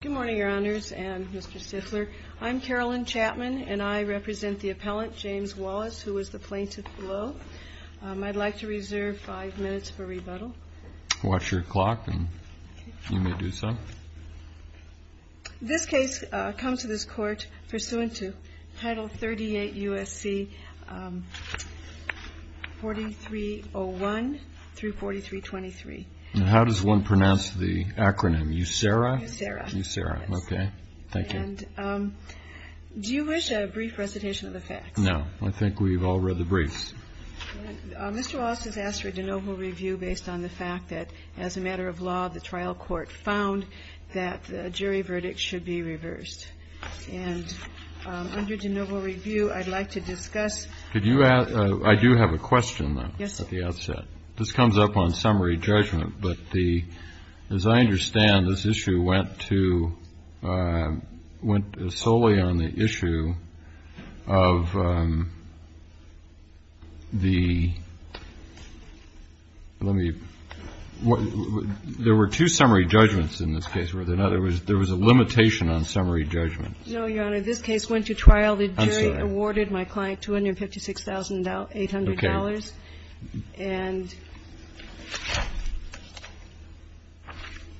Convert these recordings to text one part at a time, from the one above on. Good morning, Your Honors, and Mr. Stifler. I'm Carolyn Chapman, and I represent the appellant, James Wallace, who is the plaintiff below. I'd like to reserve five minutes for rebuttal. Watch your clock, and you may do so. This case comes to this Court pursuant to Title 38 U.S.C. 4301 through 4323. And how does one pronounce the acronym, USERA? USERA, okay. Thank you. And do you wish a brief recitation of the facts? No. I think we've all read the briefs. Mr. Wallace has asked for a de novo review based on the fact that, as a matter of law, the trial court found that the jury verdict should be reversed. And under de novo review, I'd like to discuss – Did you – I do have a question, though, at the outset. Yes. This comes up on summary judgment. But the – as I understand, this issue went to – went solely on the issue of the – let me – there were two summary judgments in this case, were there not? There was a limitation on summary judgment. No, Your Honor. This case went to trial. The jury awarded my client $256,800. Okay. And –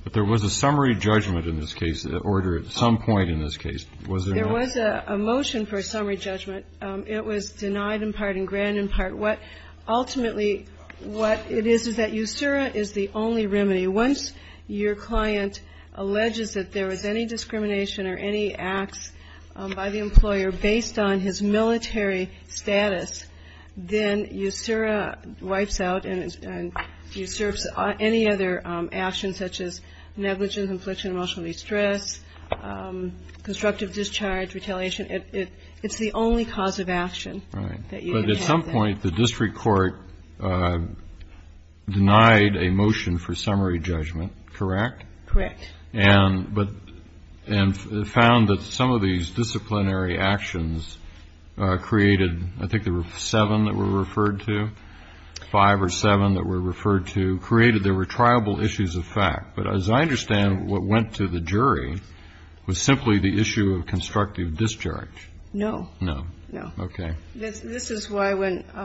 But there was a summary judgment in this case, an order at some point in this case. Was there not? There was a motion for a summary judgment. It was denied in part and granted in part. What – ultimately, what it is is that USERA is the only remedy. Once your client alleges that there was any discrimination or any acts by the employer based on his military status, then USERA wipes out and usurps any other actions such as negligence, infliction of emotional distress, constructive discharge, retaliation. It's the only cause of action that you can have. Right. But at some point, the district court denied a motion for summary judgment, correct? Correct. And – but – and found that some of these disciplinary actions created – I think there were seven that were referred to, five or seven that were referred to, created there were triable issues of fact. But as I understand, what went to the jury was simply the issue of constructive discharge. No. No. No. Okay. This is why when –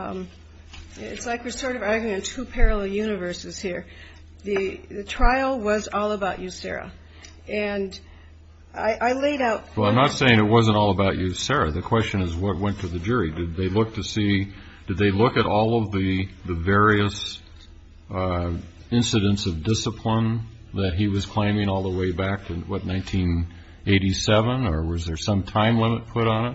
it's like we're sort of arguing two parallel universes here. The trial was all about USERA. And I laid out – Well, I'm not saying it wasn't all about USERA. The question is what went to the jury. Did they look to see – did they look at all of the various incidents of discipline that he was claiming all the way back in, what, 1987? Or was there some time limit put on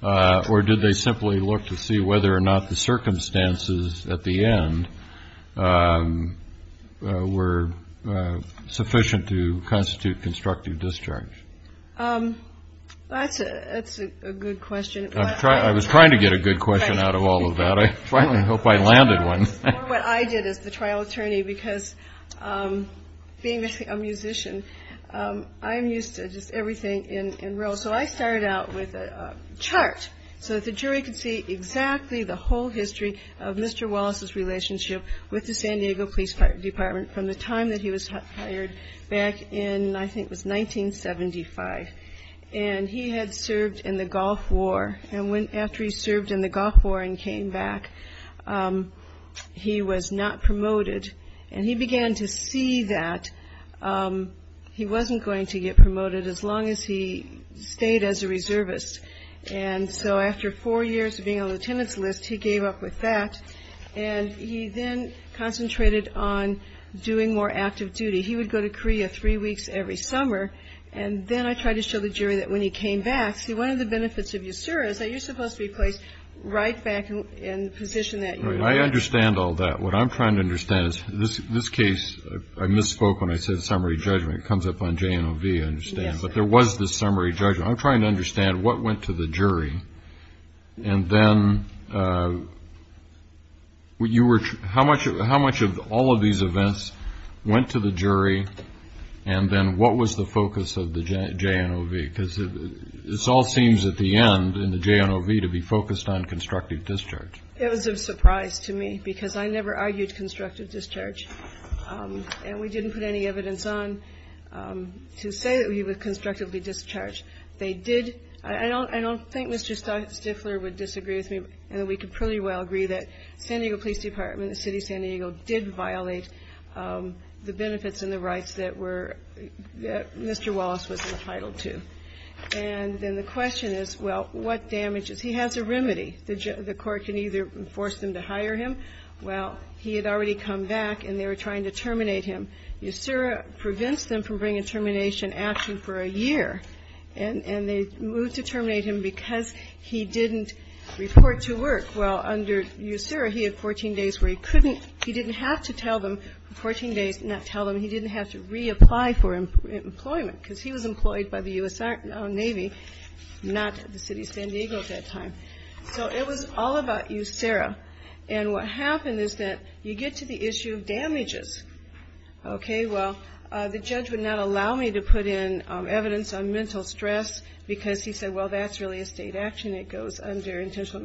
it? Or did they simply look to see whether or not the circumstances at the end were sufficient to constitute constructive discharge? That's a good question. I was trying to get a good question out of all of that. I finally hope I landed one. What I did as the trial attorney, because being a musician, I'm used to just everything in real. So I started out with a chart so that the jury could see exactly the whole history of Mr. Wallace's relationship with the San Diego Police Department from the time that he was hired back in, I think it was 1975. And he had served in the Gulf War. And after he served in the Gulf War and came back, he was not promoted. And he began to see that he wasn't going to get promoted as long as he stayed as a reservist. And so after four years of being on the lieutenant's list, he gave up with that. And he then concentrated on doing more active duty. He would go to Korea three weeks every summer. And then I tried to show the jury that when he came back, see, one of the benefits of USERA is that you're supposed to be placed right back in the position that you were in. I understand all that. What I'm trying to understand is this case, I misspoke when I said summary judgment. It comes up on JNOV, I understand. But there was this summary judgment. I'm trying to understand what went to the jury. And then how much of all of these events went to the jury? And then what was the focus of the JNOV? Because this all seems at the end in the JNOV to be focused on constructive discharge. It was a surprise to me because I never argued constructive discharge. And we didn't put any evidence on to say that he was constructively discharged. They did. I don't think Mr. Stifler would disagree with me in that we could pretty well agree that San Diego Police Department and the city of San Diego did violate the benefits and the rights that Mr. Wallace was entitled to. And then the question is, well, what damages? He has a remedy. The court can either force them to hire him. Well, he had already come back, and they were trying to terminate him. USERA prevents them from bringing termination action for a year. And they moved to terminate him because he didn't report to work. Well, under USERA, he had 14 days where he couldn't he didn't have to tell them, 14 days, not tell them, he didn't have to reapply for employment because he was employed by the U.S. Navy, not the city of San Diego at that time. So it was all about USERA. And what happened is that you get to the issue of damages. Okay, well, the judge would not allow me to put in evidence on mental stress because he said, well, that's really a state action that goes under intentional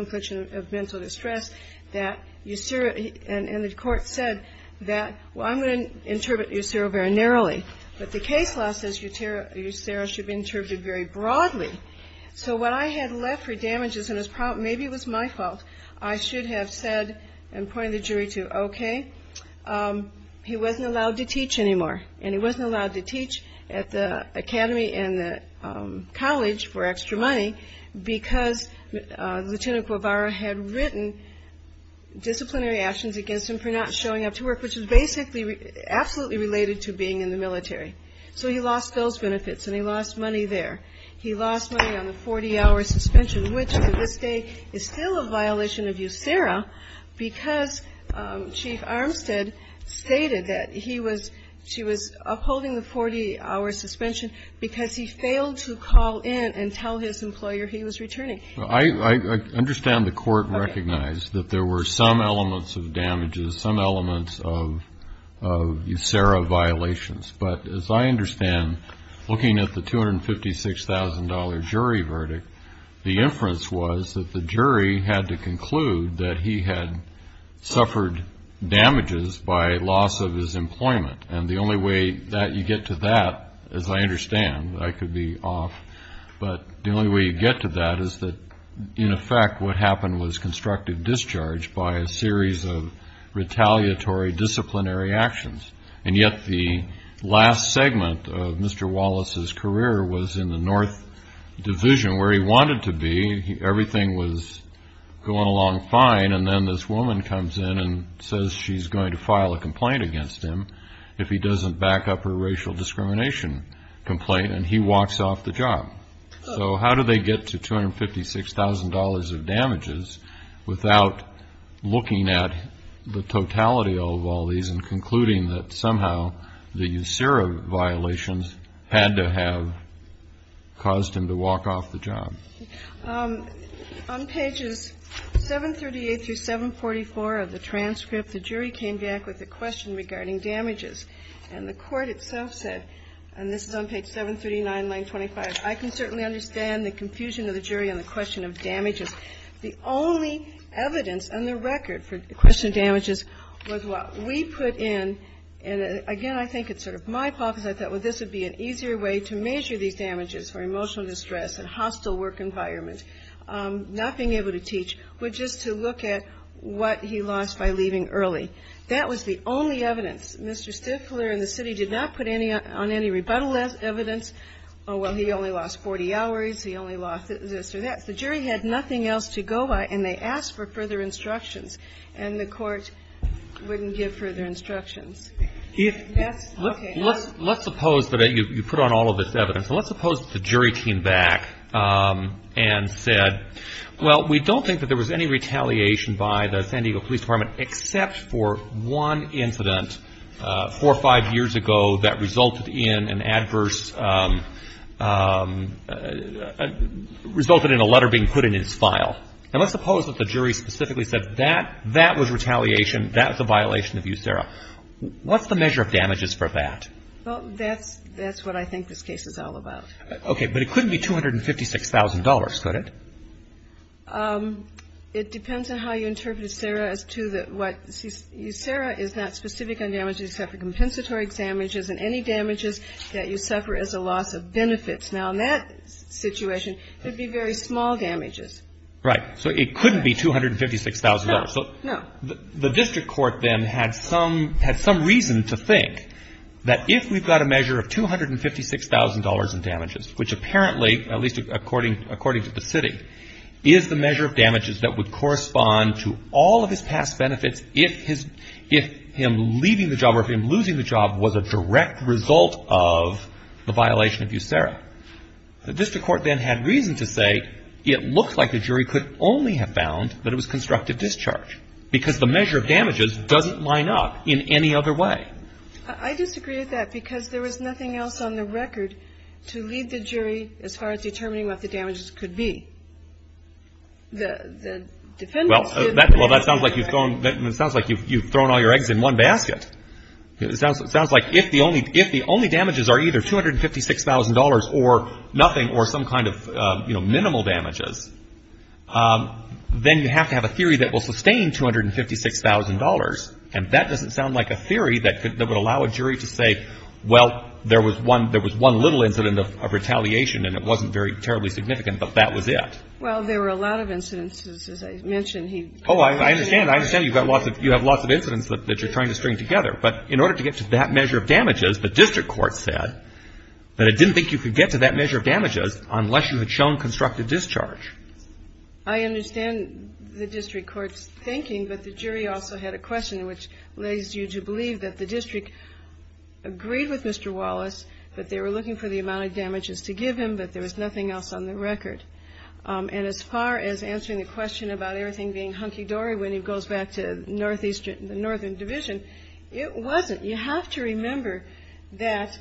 infliction of mental distress. And the court said that, well, I'm going to interpret USERA very narrowly. But the case law says USERA should be interpreted very broadly. So when I had left for damages, and maybe it was my fault, I should have said and pointed the jury to, okay, he wasn't allowed to teach anymore. And he wasn't allowed to teach at the academy and the college for extra money because Lieutenant Guevara had written disciplinary actions against him for not showing up to work, which was basically absolutely related to being in the military. So he lost those benefits, and he lost money there. He lost money on the 40-hour suspension, which to this day is still a violation of USERA because Chief Armstead stated that he was upholding the 40-hour suspension because he failed to call in and tell his employer he was returning. I understand the court recognized that there were some elements of damages, some elements of USERA violations. But as I understand, looking at the $256,000 jury verdict, the inference was that the jury had to conclude that he had suffered damages by loss of his employment. And the only way that you get to that, as I understand, I could be off, but the only way you get to that is that, in effect, what happened was constructive discharge by a series of retaliatory disciplinary actions. And yet the last segment of Mr. Wallace's career was in the North Division, where he wanted to be, everything was going along fine, and then this woman comes in and says she's going to file a complaint against him if he doesn't back up her racial discrimination complaint, and he walks off the job. So how do they get to $256,000 of damages without looking at the totality of all these and concluding that somehow the USERA violations had to have caused him to walk off the job? On pages 738 through 744 of the transcript, the jury came back with a question regarding damages. And the Court itself said, and this is on page 739, line 25, I can certainly understand the confusion of the jury on the question of damages. The only evidence on the record for the question of damages was what we put in. And again, I think it's sort of my hypothesis. I thought, well, this would be an easier way to measure these damages for emotional distress and hostile work environment, not being able to teach, but just to look at what he lost by leaving early. That was the only evidence. Mr. Stifler and the city did not put any on any rebuttal evidence. Oh, well, he only lost 40 hours. He only lost this or that. The jury had nothing else to go by, and they asked for further instructions. And the Court wouldn't give further instructions. Let's suppose that you put on all of this evidence. And let's suppose that the jury came back and said, well, we don't think that there was any retaliation by the San Diego Police Department except for one incident four or five years ago that resulted in an adverse, resulted in a letter being put in his file. Now, let's suppose that the jury specifically said that that was retaliation, that was a violation of USERRA. What's the measure of damages for that? Well, that's what I think this case is all about. Okay. But it couldn't be $256,000, could it? It depends on how you interpret USERRA as to what you see. USERRA is not specific on damages except for compensatory examinations. Now, in that situation, it would be very small damages. Right. So it couldn't be $256,000. No, no. The district court then had some reason to think that if we've got a measure of $256,000 in damages, which apparently, at least according to the city, is the measure of damages that would correspond to all of his past benefits if him leaving the job or if him losing the job was a direct result of the violation of USERRA. The district court then had reason to say it looked like the jury could only have found that it was constructive discharge because the measure of damages doesn't line up in any other way. I disagree with that because there was nothing else on the record to lead the jury as far as determining what the damages could be. Well, that sounds like you've thrown all your eggs in one basket. It sounds like if the only damages are either $256,000 or nothing or some kind of minimal damages, then you have to have a theory that will sustain $256,000. And that doesn't sound like a theory that would allow a jury to say, well, there was one little incident of retaliation and it wasn't terribly significant, but that was it. Well, there were a lot of incidents, as I mentioned. Oh, I understand. I understand you have lots of incidents that you're trying to string together. But in order to get to that measure of damages, the district court said that it didn't think you could get to that measure of damages unless you had shown constructive discharge. I understand the district court's thinking, but the jury also had a question which leads you to believe that the district agreed with Mr. Wallace, that they were looking for the amount of damages to give him, but there was nothing else on the record. And as far as answering the question about everything being hunky-dory when he goes back to the Northern Division, it wasn't. You have to remember that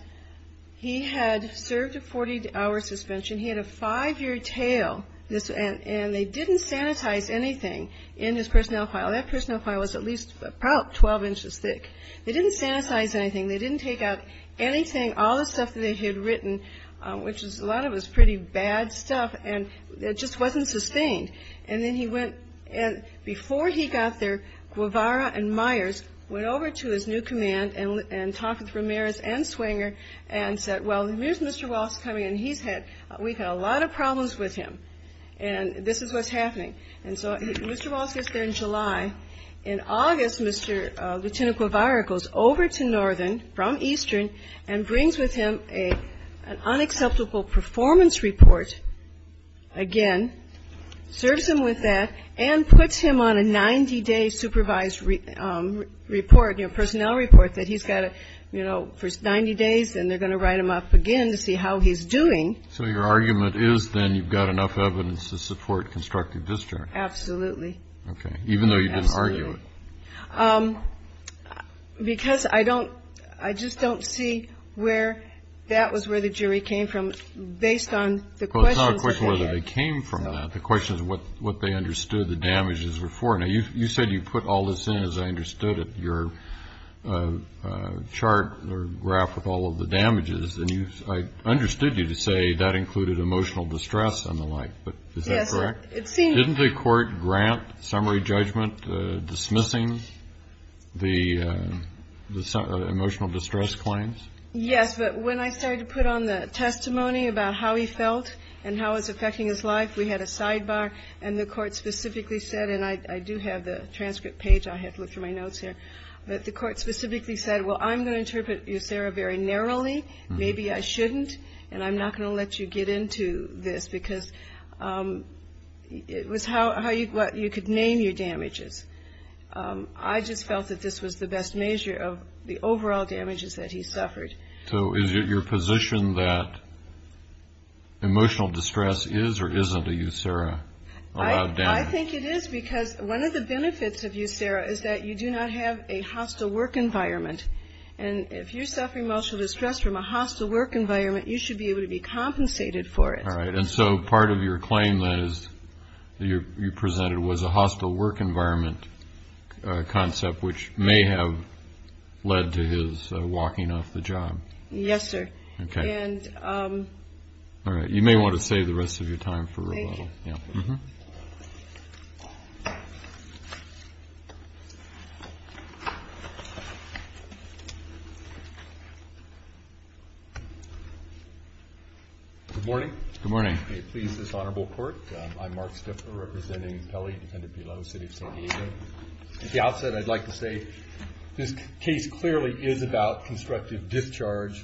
he had served a 40-hour suspension. He had a five-year tail, and they didn't sanitize anything in his personnel file. That personnel file was at least about 12 inches thick. They didn't sanitize anything. They didn't take out anything, all the stuff that they had written, which a lot of it was pretty bad stuff, and it just wasn't sustained. And before he got there, Guevara and Myers went over to his new command and talked with Ramirez and Swinger and said, well, here's Mr. Wallace coming in. We've had a lot of problems with him, and this is what's happening. And so Mr. Wallace gets there in July. In August, Lieutenant Guevara goes over to Northern from Eastern and brings with him an unacceptable performance report again, serves him with that, and puts him on a 90-day supervised report, personnel report that he's got for 90 days, and they're going to write him up again to see how he's doing. So your argument is then you've got enough evidence to support constructive discharge. Absolutely. Okay. Even though you didn't argue it. Absolutely. Because I don't see where that was where the jury came from based on the questions they had. Now, you said you put all this in, as I understood it, your chart or graph with all of the damages, and I understood you to say that included emotional distress and the like, but is that correct? Yes. Didn't the court grant summary judgment dismissing the emotional distress claims? Yes, but when I started to put on the testimony about how he felt and how it was affecting his life, we had a sidebar, and the court specifically said, and I do have the transcript page, I have to look through my notes here, but the court specifically said, well, I'm going to interpret you, Sarah, very narrowly, maybe I shouldn't, and I'm not going to let you get into this because it was how you could name your damages. I just felt that this was the best measure of the overall damages that he suffered. So is it your position that emotional distress is or isn't a USERA? I think it is because one of the benefits of USERA is that you do not have a hostile work environment, and if you're suffering emotional distress from a hostile work environment, you should be able to be compensated for it. All right. And so part of your claim that you presented was a hostile work environment concept, which may have led to his walking off the job. Yes, sir. Okay. And... All right. You may want to save the rest of your time for... Thank you. Good morning. Good morning. It pleases this honorable court. I'm Mark Stiffler, representing Kelly, defendant below, city of San Diego. At the outset, I'd like to say this case clearly is about constructive discharge.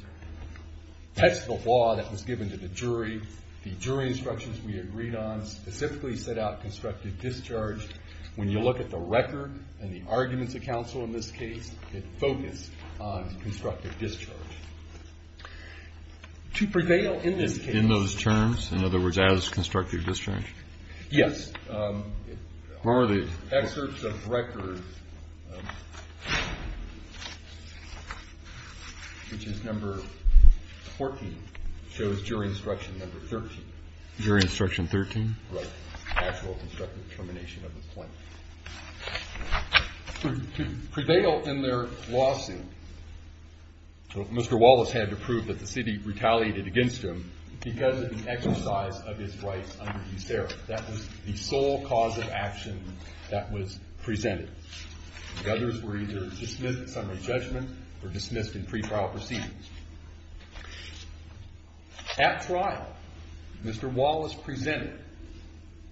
That's the law that was given to the jury. The jury instructions we agreed on specifically set out constructive discharge. When you look at the record and the arguments of counsel in this case, it focused on constructive discharge. To prevail in this case... In those terms? In other words, as constructive discharge? Yes. Where are they? Excerpts of record, which is number 14, shows jury instruction number 13. Jury instruction 13? Right. Actual constructive termination of the claim. To prevail in their lawsuit, Mr. Wallace had to prove that the city retaliated against him because of the exercise of his rights under these errors. That was the sole cause of action that was presented. The others were either dismissed under judgment or dismissed in pre-trial proceedings. At trial, Mr. Wallace presented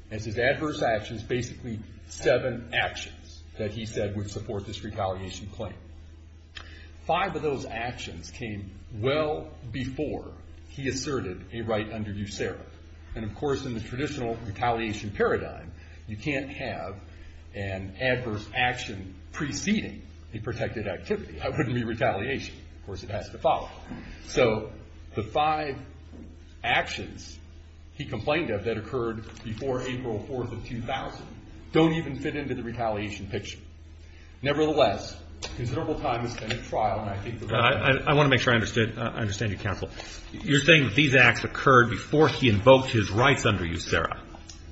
as his adverse actions basically seven actions that he said would support this retaliation claim. Five of those actions came well before he asserted a right under USERRA. Of course, in the traditional retaliation paradigm, you can't have an adverse action preceding a protected activity. That wouldn't be retaliation. Of course, it has to follow. The five actions he complained of that occurred before April 4, 2000 don't even fit into the retaliation picture. Nevertheless, considerable time has been at trial. I want to make sure I understand you, counsel. You're saying that these acts occurred before he invoked his rights under USERRA?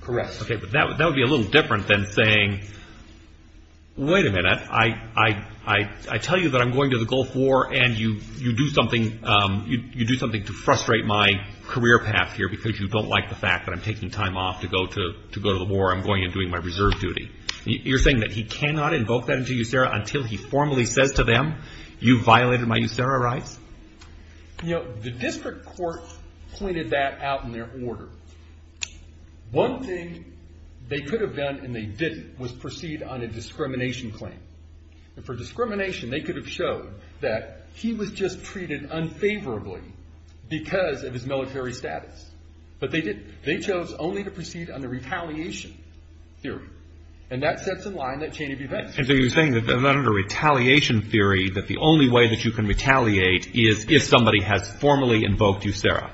Correct. Okay. But that would be a little different than saying, wait a minute. I tell you that I'm going to the Gulf War, and you do something to frustrate my career path here because you don't like the fact that I'm taking time off to go to the war. I'm going and doing my reserve duty. You're saying that he cannot invoke that under USERRA until he formally says to them, you violated my USERRA rights? The district court pointed that out in their order. One thing they could have done and they didn't was proceed on a discrimination claim. For discrimination, they could have showed that he was just treated unfavorably because of his military status. But they didn't. They chose only to proceed under retaliation theory. And that sets in line that chain of events. So you're saying that under retaliation theory that the only way that you can retaliate is if somebody has formally invoked USERRA?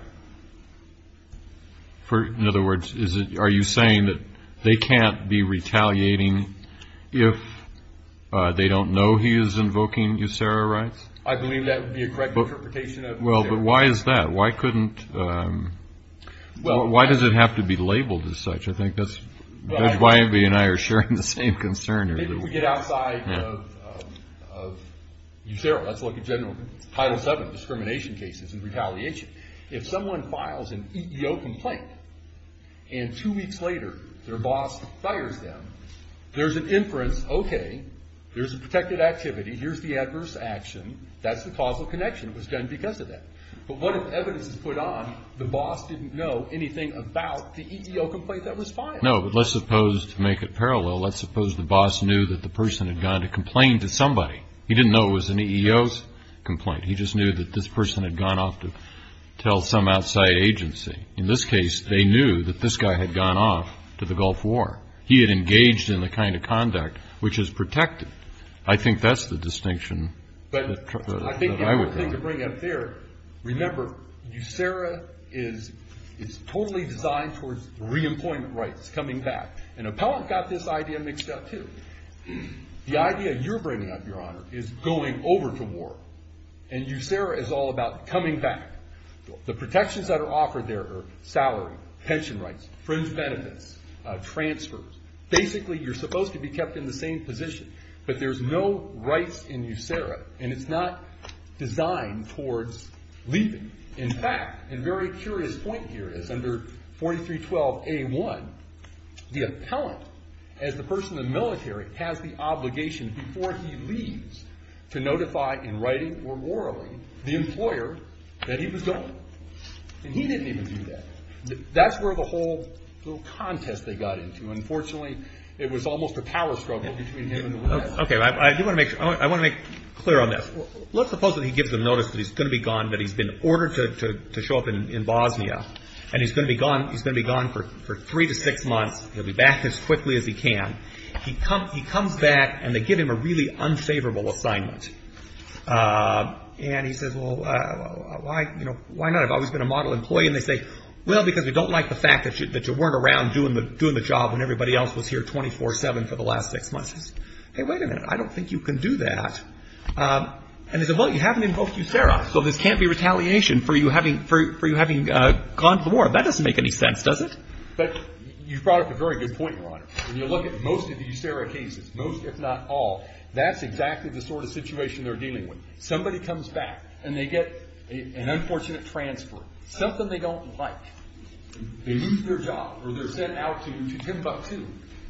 In other words, are you saying that they can't be retaliating if they don't know he is invoking USERRA rights? I believe that would be a correct interpretation of USERRA. Well, but why is that? Why does it have to be labeled as such? I think that's why everybody and I are sharing the same concern. Maybe if we get outside of USERRA. Let's look at Title VII discrimination cases and retaliation. If someone files an EEO complaint and two weeks later their boss fires them, there's an inference, okay, there's a protected activity. Here's the adverse action. That's the causal connection. It was done because of that. But what if evidence is put on the boss didn't know anything about the EEO complaint that was filed? No, but let's suppose to make it parallel, let's suppose the boss knew that the person had gone to complain to somebody. He didn't know it was an EEO complaint. He just knew that this person had gone off to tell some outside agency. In this case, they knew that this guy had gone off to the Gulf War. He had engaged in the kind of conduct which is protected. I think that's the distinction that I would draw. Remember, USERRA is totally designed towards re-employment rights, coming back. And Appellant got this idea mixed up, too. The idea you're bringing up, Your Honor, is going over to war. And USERRA is all about coming back. The protections that are offered there are salary, pension rights, friends' benefits, transfers. Basically, you're supposed to be kept in the same position. But there's no rights in USERRA, and it's not designed towards leaving. In fact, a very curious point here is under 4312A1, the Appellant, as the person in the military, has the obligation before he leaves to notify in writing or orally the employer that he was going. And he didn't even do that. That's where the whole little contest they got into. Unfortunately, it was almost a power struggle between him and the West. I want to make clear on this. Let's suppose that he gives them notice that he's going to be gone, that he's been ordered to show up in Bosnia. And he's going to be gone for three to six months. He'll be back as quickly as he can. He comes back, and they give him a really unfavorable assignment. And he says, well, why not? I've always been a model employee. And they say, well, because we don't like the fact that you weren't around doing the job when everybody else was here 24-7 for the last six months. He says, hey, wait a minute. I don't think you can do that. And they say, well, you haven't invoked USERRA. So this can't be retaliation for you having gone to the war. That doesn't make any sense, does it? But you brought up a very good point, Your Honor. When you look at most of the USERRA cases, most if not all, that's exactly the sort of situation they're dealing with. Somebody comes back, and they get an unfortunate transfer, something they don't like. They lose their job, or they're sent out to Timbuktu.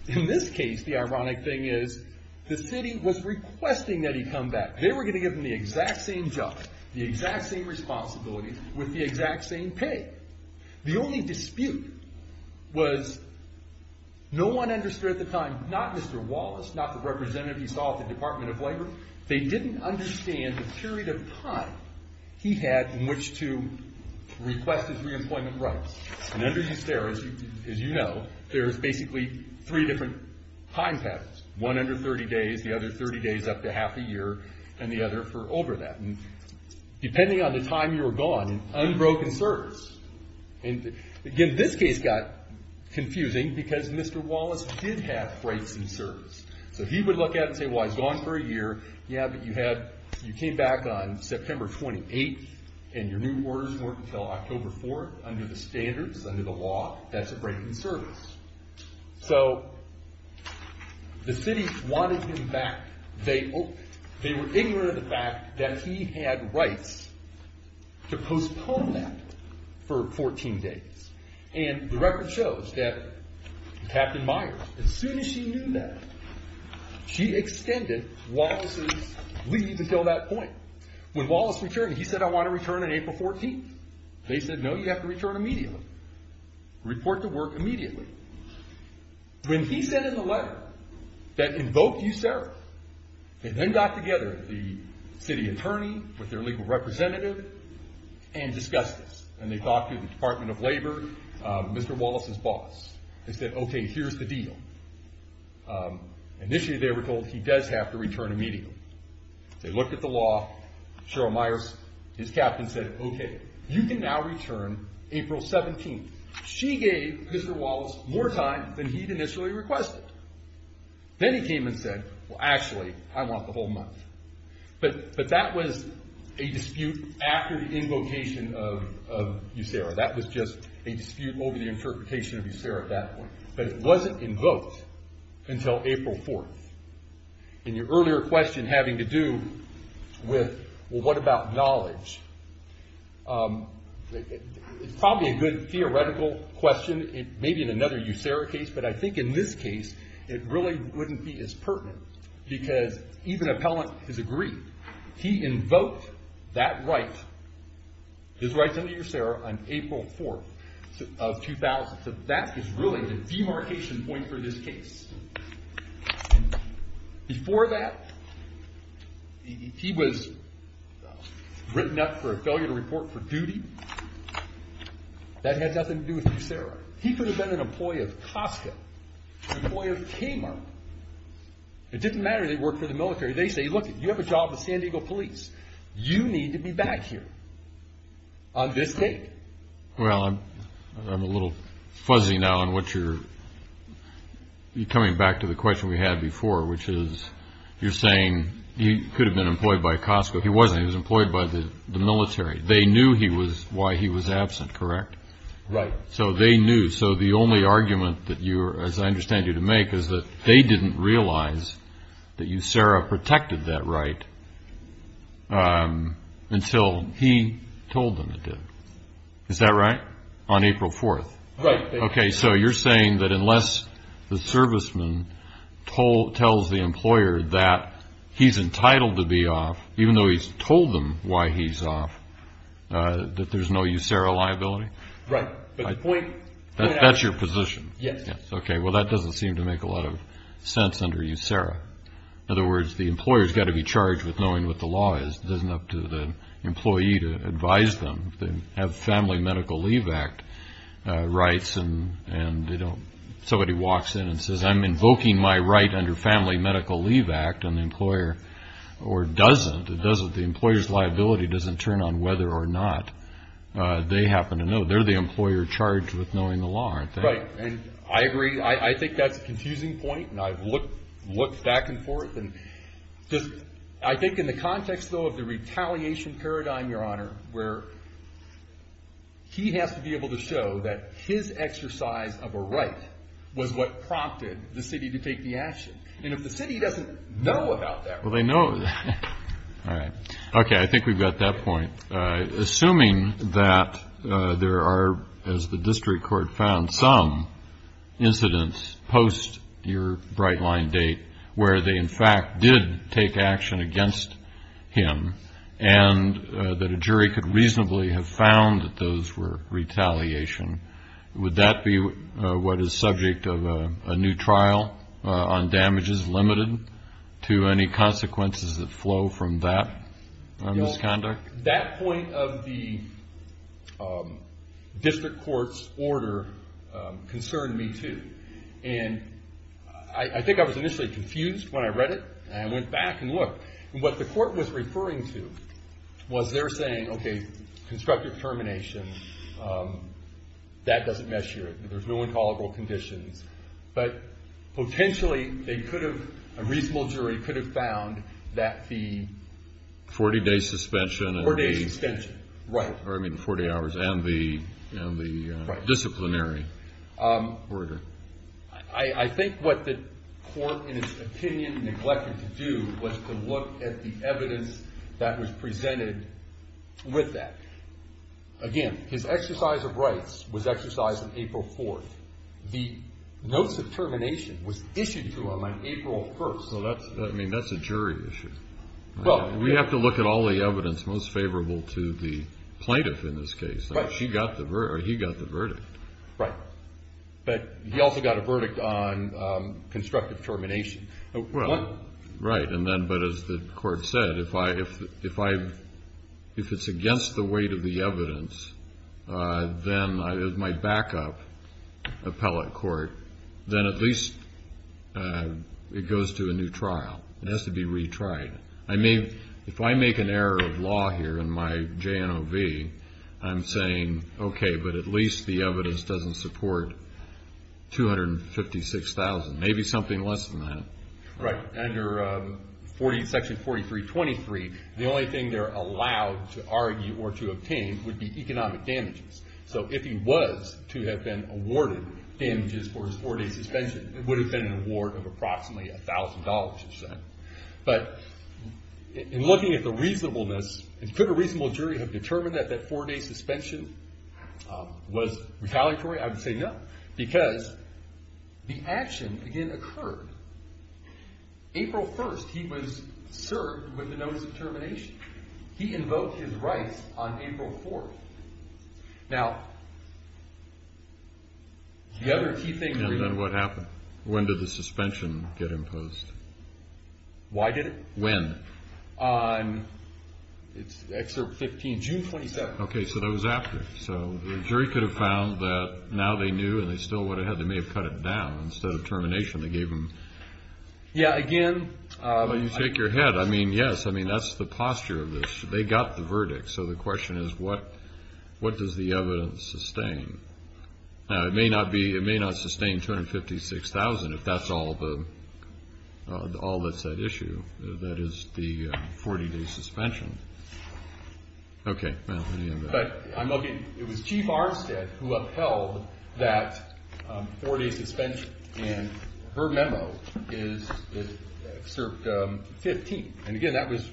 In this case, the ironic thing is the city was requesting that he come back. They were going to give him the exact same job, the exact same responsibility, with the exact same pay. The only dispute was no one understood at the time, not Mr. Wallace, not the representative he saw at the Department of Labor. They didn't understand the period of time he had in which to request his reemployment rights. And under USERRA, as you know, there's basically three different time patterns. One under 30 days, the other 30 days up to half a year, and the other for over that. And depending on the time you were gone, unbroken service. And again, this case got confusing because Mr. Wallace did have breaks in service. So he would look at it and say, well, he's gone for a year. Yeah, but you came back on September 28th, and your new orders weren't until October 4th under the standards, under the law. That's a break in service. So the city wanted him back. They were ignorant of the fact that he had rights to postpone that for 14 days. And the record shows that Captain Myers, as soon as she knew that, she extended Wallace's leave until that point. When Wallace returned, he said, I want to return on April 14th. They said, no, you have to return immediately. Report to work immediately. When he sent in the letter that invoked USERRA, they then got together with the city attorney, with their legal representative, and discussed this. And they talked to the Department of Labor, Mr. Wallace's boss. They said, okay, here's the deal. Initially, they were told he does have to return immediately. They looked at the law. Cheryl Myers, his captain, said, okay, you can now return April 17th. She gave Mr. Wallace more time than he'd initially requested. Then he came and said, well, actually, I want the whole month. But that was a dispute after the invocation of USERRA. That was just a dispute over the interpretation of USERRA at that point. But it wasn't invoked until April 4th. And your earlier question having to do with, well, what about knowledge? It's probably a good theoretical question, maybe in another USERRA case. But I think in this case, it really wouldn't be as pertinent. Because even appellant has agreed. He invoked that right, his right under USERRA, on April 4th of 2000. So that is really the demarcation point for this case. Before that, he was written up for a failure to report for duty. That had nothing to do with USERRA. He could have been an employee of COSCA, an employee of Kmart. It didn't matter that he worked for the military. They say, look, you have a job with San Diego police. You need to be back here on this date. Well, I'm a little fuzzy now on what you're coming back to the question we had before, which is you're saying he could have been employed by COSCA. If he wasn't, he was employed by the military. They knew why he was absent, correct? Right. So they knew. So the only argument that you are, as I understand you to make, is that they didn't realize that USERRA protected that right until he told them it did. Is that right? On April 4th? Right. Okay. So you're saying that unless the serviceman tells the employer that he's entitled to be off, even though he's told them why he's off, that there's no USERRA liability? Right. That's your position? Yes. Okay. Well, that doesn't seem to make a lot of sense under USERRA. In other words, the employer's got to be charged with knowing what the law is. It isn't up to the employee to advise them. They have Family Medical Leave Act rights, and somebody walks in and says, I'm invoking my right under Family Medical Leave Act, and the employer doesn't. It doesn't. The employer's liability doesn't turn on whether or not they happen to know. They're the employer charged with knowing the law, aren't they? Right. And I agree. I think that's a confusing point, and I've looked back and forth. I think in the context, though, of the retaliation paradigm, Your Honor, where he has to be able to show that his exercise of a right was what prompted the city to take the action. And if the city doesn't know about that right, well, they know. All right. Okay. I think we've got that point. Assuming that there are, as the district court found, some incidents post your bright line date where they, in fact, did take action against him, and that a jury could reasonably have found that those were retaliation, would that be what is subject of a new trial on damages limited to any consequences that flow from that misconduct? That point of the district court's order concerned me, too. And I think I was initially confused when I read it, and I went back and looked. And what the court was referring to was they're saying, okay, constructive termination, that doesn't measure it. There's no intolerable conditions. But potentially, they could have, a reasonable jury could have found that the 40-day suspension. Four-day suspension. Right. Or, I mean, the 40 hours and the disciplinary order. I think what the court, in its opinion, neglected to do was to look at the evidence that was presented with that. Again, his exercise of rights was exercised on April 4th. The notes of termination was issued to him on April 1st. So that's, I mean, that's a jury issue. Well. We have to look at all the evidence most favorable to the plaintiff in this case. Right. He got the verdict. Right. But he also got a verdict on constructive termination. Well, right. And then, but as the court said, if I, if it's against the weight of the evidence, then my backup appellate court, then at least it goes to a new trial. It has to be retried. Right. I mean, if I make an error of law here in my JNOV, I'm saying, okay, but at least the evidence doesn't support $256,000. Maybe something less than that. Right. Under Section 4323, the only thing they're allowed to argue or to obtain would be economic damages. So if he was to have been awarded damages for his four-day suspension, it would have been an award of approximately $1,000. But in looking at the reasonableness, could a reasonable jury have determined that that four-day suspension was retaliatory? I would say no. Because the action, again, occurred. April 1st, he was served with the notice of termination. He invoked his rights on April 4th. Now, the other key thing. And then what happened? When did the suspension get imposed? Why did it? When? It's Excerpt 15, June 27th. Okay. So that was after. So the jury could have found that now they knew and they still would have had, they may have cut it down. Instead of termination, they gave him. Yeah. Again. You shake your head. I mean, yes. I mean, that's the posture of this. They got the verdict. So the question is, what does the evidence sustain? It may not sustain 256,000 if that's all that's at issue. That is the 40-day suspension. Okay. But it was Chief Armstead who upheld that four-day suspension. And her memo is Excerpt 15. And, again, that was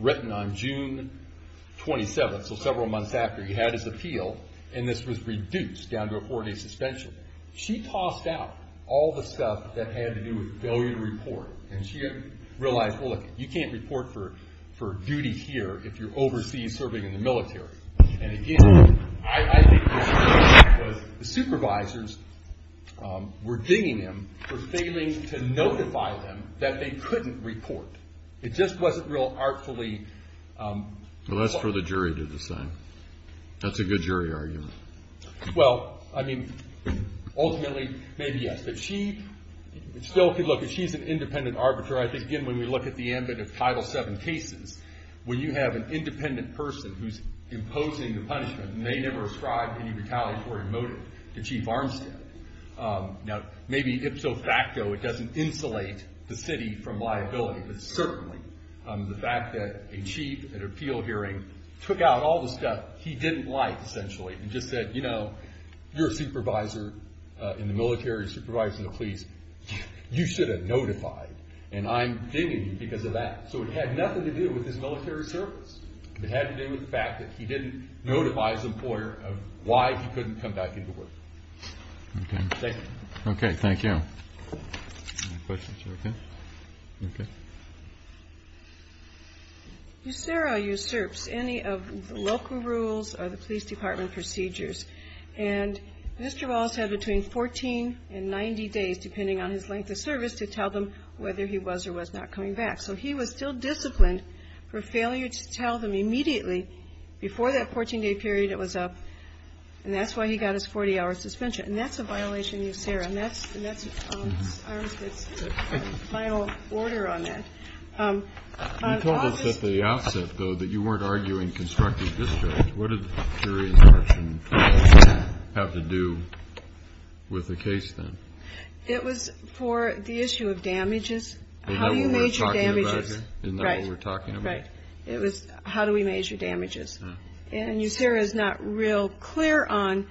written on June 27th. So several months after, he had his appeal, and this was reduced down to a four-day suspension. She tossed out all the stuff that had to do with failure to report. And she realized, well, look, you can't report for duty here if you're overseas serving in the military. And, again, I think what happened was the supervisors were dinging him for failing to notify them that they couldn't report. It just wasn't real artfully. Well, that's for the jury to decide. That's a good jury argument. Well, I mean, ultimately, maybe yes. The chief still could look. If she's an independent arbiter, I think, again, when we look at the ambit of Title VII cases, when you have an independent person who's imposing the punishment and they never ascribe any retaliatory motive to Chief Armstead. Now, maybe ipso facto, it doesn't insulate the city from liability, but certainly the fact that a chief at an appeal hearing took out all the stuff he didn't like, essentially, and just said, you know, you're a supervisor in the military, supervisor of the police. You should have notified, and I'm dinging you because of that. So it had nothing to do with his military service. It had to do with the fact that he didn't notify his employer of why he couldn't come back into work. Okay. Thank you. Okay. Thank you. Any questions? You okay? Okay. USERRA usurps any of the local rules or the police department procedures. And Mr. Wallace had between 14 and 90 days, depending on his length of service, to tell them whether he was or was not coming back. So he was still disciplined for failure to tell them immediately before that 14-day period it was up, and that's why he got his 40-hour suspension. And that's a violation of USERRA. And that's Armstead's final order on that. You told us at the outset, though, that you weren't arguing constructive discharge. What did the jury instruction have to do with the case, then? It was for the issue of damages. Isn't that what we're talking about here? Right. Isn't that what we're talking about? Right. It was how do we measure damages. And USERRA is not real clear on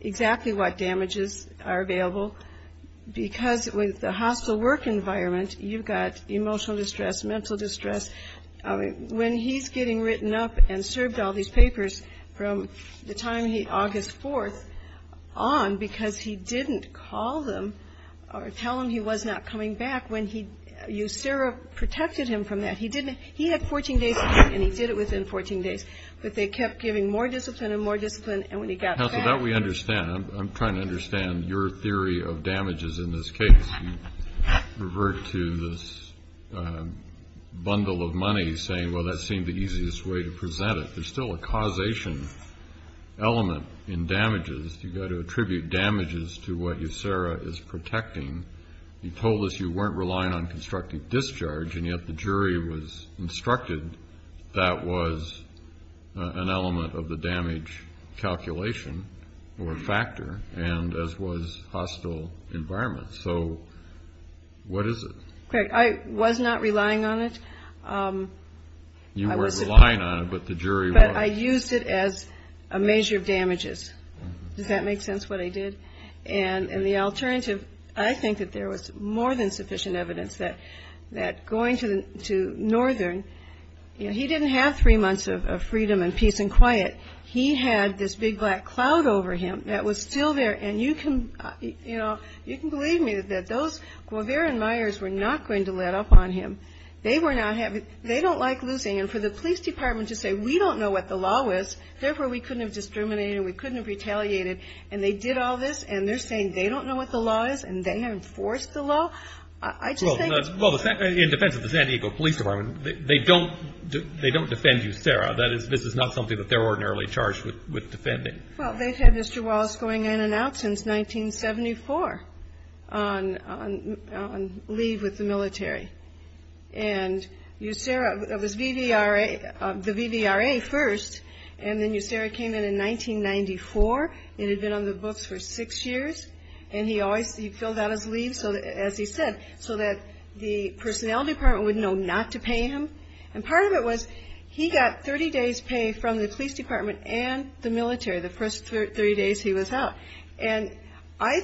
exactly what damages are available because with the hostile work environment, you've got emotional distress, mental distress. When he's getting written up and served all these papers from the time August 4th on, because he didn't call them or tell them he was not coming back when USERRA protected him from that. He had 14 days, and he did it within 14 days. But they kept giving more discipline and more discipline, and when he got back. Counsel, that we understand. I'm trying to understand your theory of damages in this case. You revert to this bundle of money saying, well, that seemed the easiest way to present it. There's still a causation element in damages. You've got to attribute damages to what USERRA is protecting. You told us you weren't relying on constructive discharge, and yet the jury was instructed that was an element of the damage calculation or factor, and as was hostile environment. So what is it? I was not relying on it. You weren't relying on it, but the jury was. But I used it as a measure of damages. Does that make sense what I did? And the alternative, I think that there was more than sufficient evidence that going to Northern, he didn't have three months of freedom and peace and quiet. He had this big black cloud over him that was still there, and you can believe me that those Guevara and Myers were not going to let up on him. They don't like losing, and for the police department to say we don't know what the law is, therefore we couldn't have discriminated, we couldn't have retaliated, and they did all this, and they're saying they don't know what the law is, and they enforced the law. I just think it's... Well, in defense of the San Diego Police Department, they don't defend USERRA. This is not something that they're ordinarily charged with defending. Well, they've had Mr. Wallace going in and out since 1974 on leave with the military, and USERRA was the VVRA first, and then USERRA came in in 1994. It had been on the books for six years, and he always filled out his leave, as he said, so that the personnel department would know not to pay him, and part of it was he got 30 days' pay from the police department and the military, the first 30 days he was out, and I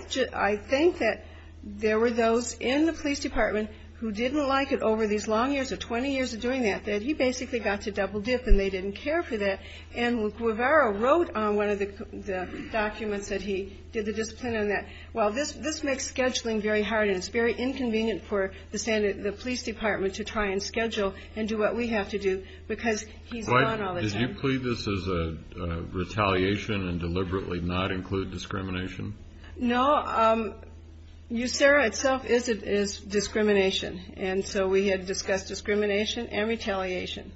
think that there were those in the police department who didn't like it over these long years of 20 years of doing that, that he basically got to double dip, and they didn't care for that, and Guevara wrote on one of the documents that he did the discipline on that, well, this makes scheduling very hard, and it's very inconvenient for the police department to try and schedule and do what we have to do because he's gone all the time. Did you plead this as a retaliation and deliberately not include discrimination? No. USERRA itself is discrimination, and so we had discussed discrimination and retaliation.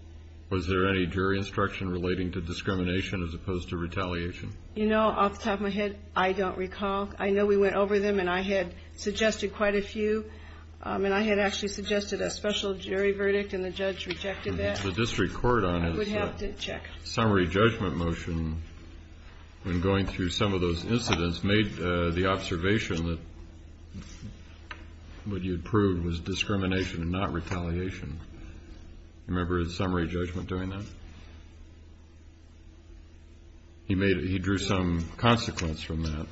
Was there any jury instruction relating to discrimination as opposed to retaliation? You know, off the top of my head, I don't recall. I know we went over them, and I had suggested quite a few, and I had actually suggested a special jury verdict, and the judge rejected that. The district court on its summary judgment motion, when going through some of those incidents, made the observation that what you had proved was discrimination and not retaliation. Do you remember the summary judgment doing that? He drew some consequence from that.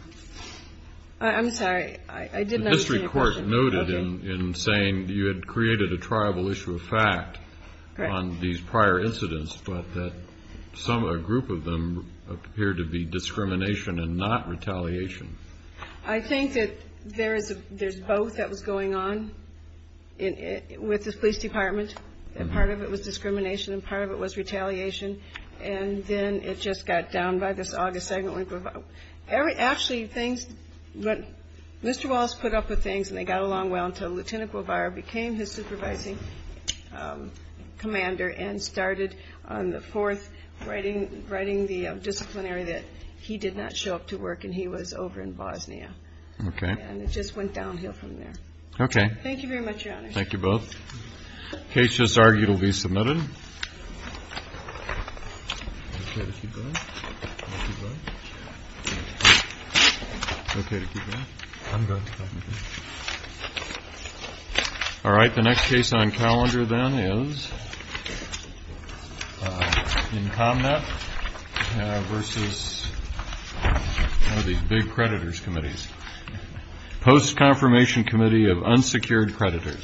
I'm sorry. I did not understand your question. The district court noted in saying you had created a triable issue of fact on these prior incidents, but that a group of them appeared to be discrimination and not retaliation. I think that there's both that was going on with the police department. Part of it was discrimination, and part of it was retaliation, and then it just got down by this August 2nd. Actually, Mr. Wallace put up with things, and they got along well until Lieutenant Guevara became his supervising commander and started on the 4th writing the disciplinary that he did not show up to work, and he was over in Bosnia. Okay. And it just went downhill from there. Okay. Thank you very much, Your Honor. Thank you both. The case just argued will be submitted. Okay to keep going? I'm going to keep going. All right. The next case on calendar then is in ComNet versus one of these big creditors' committees, post-confirmation committee of unsecured creditors.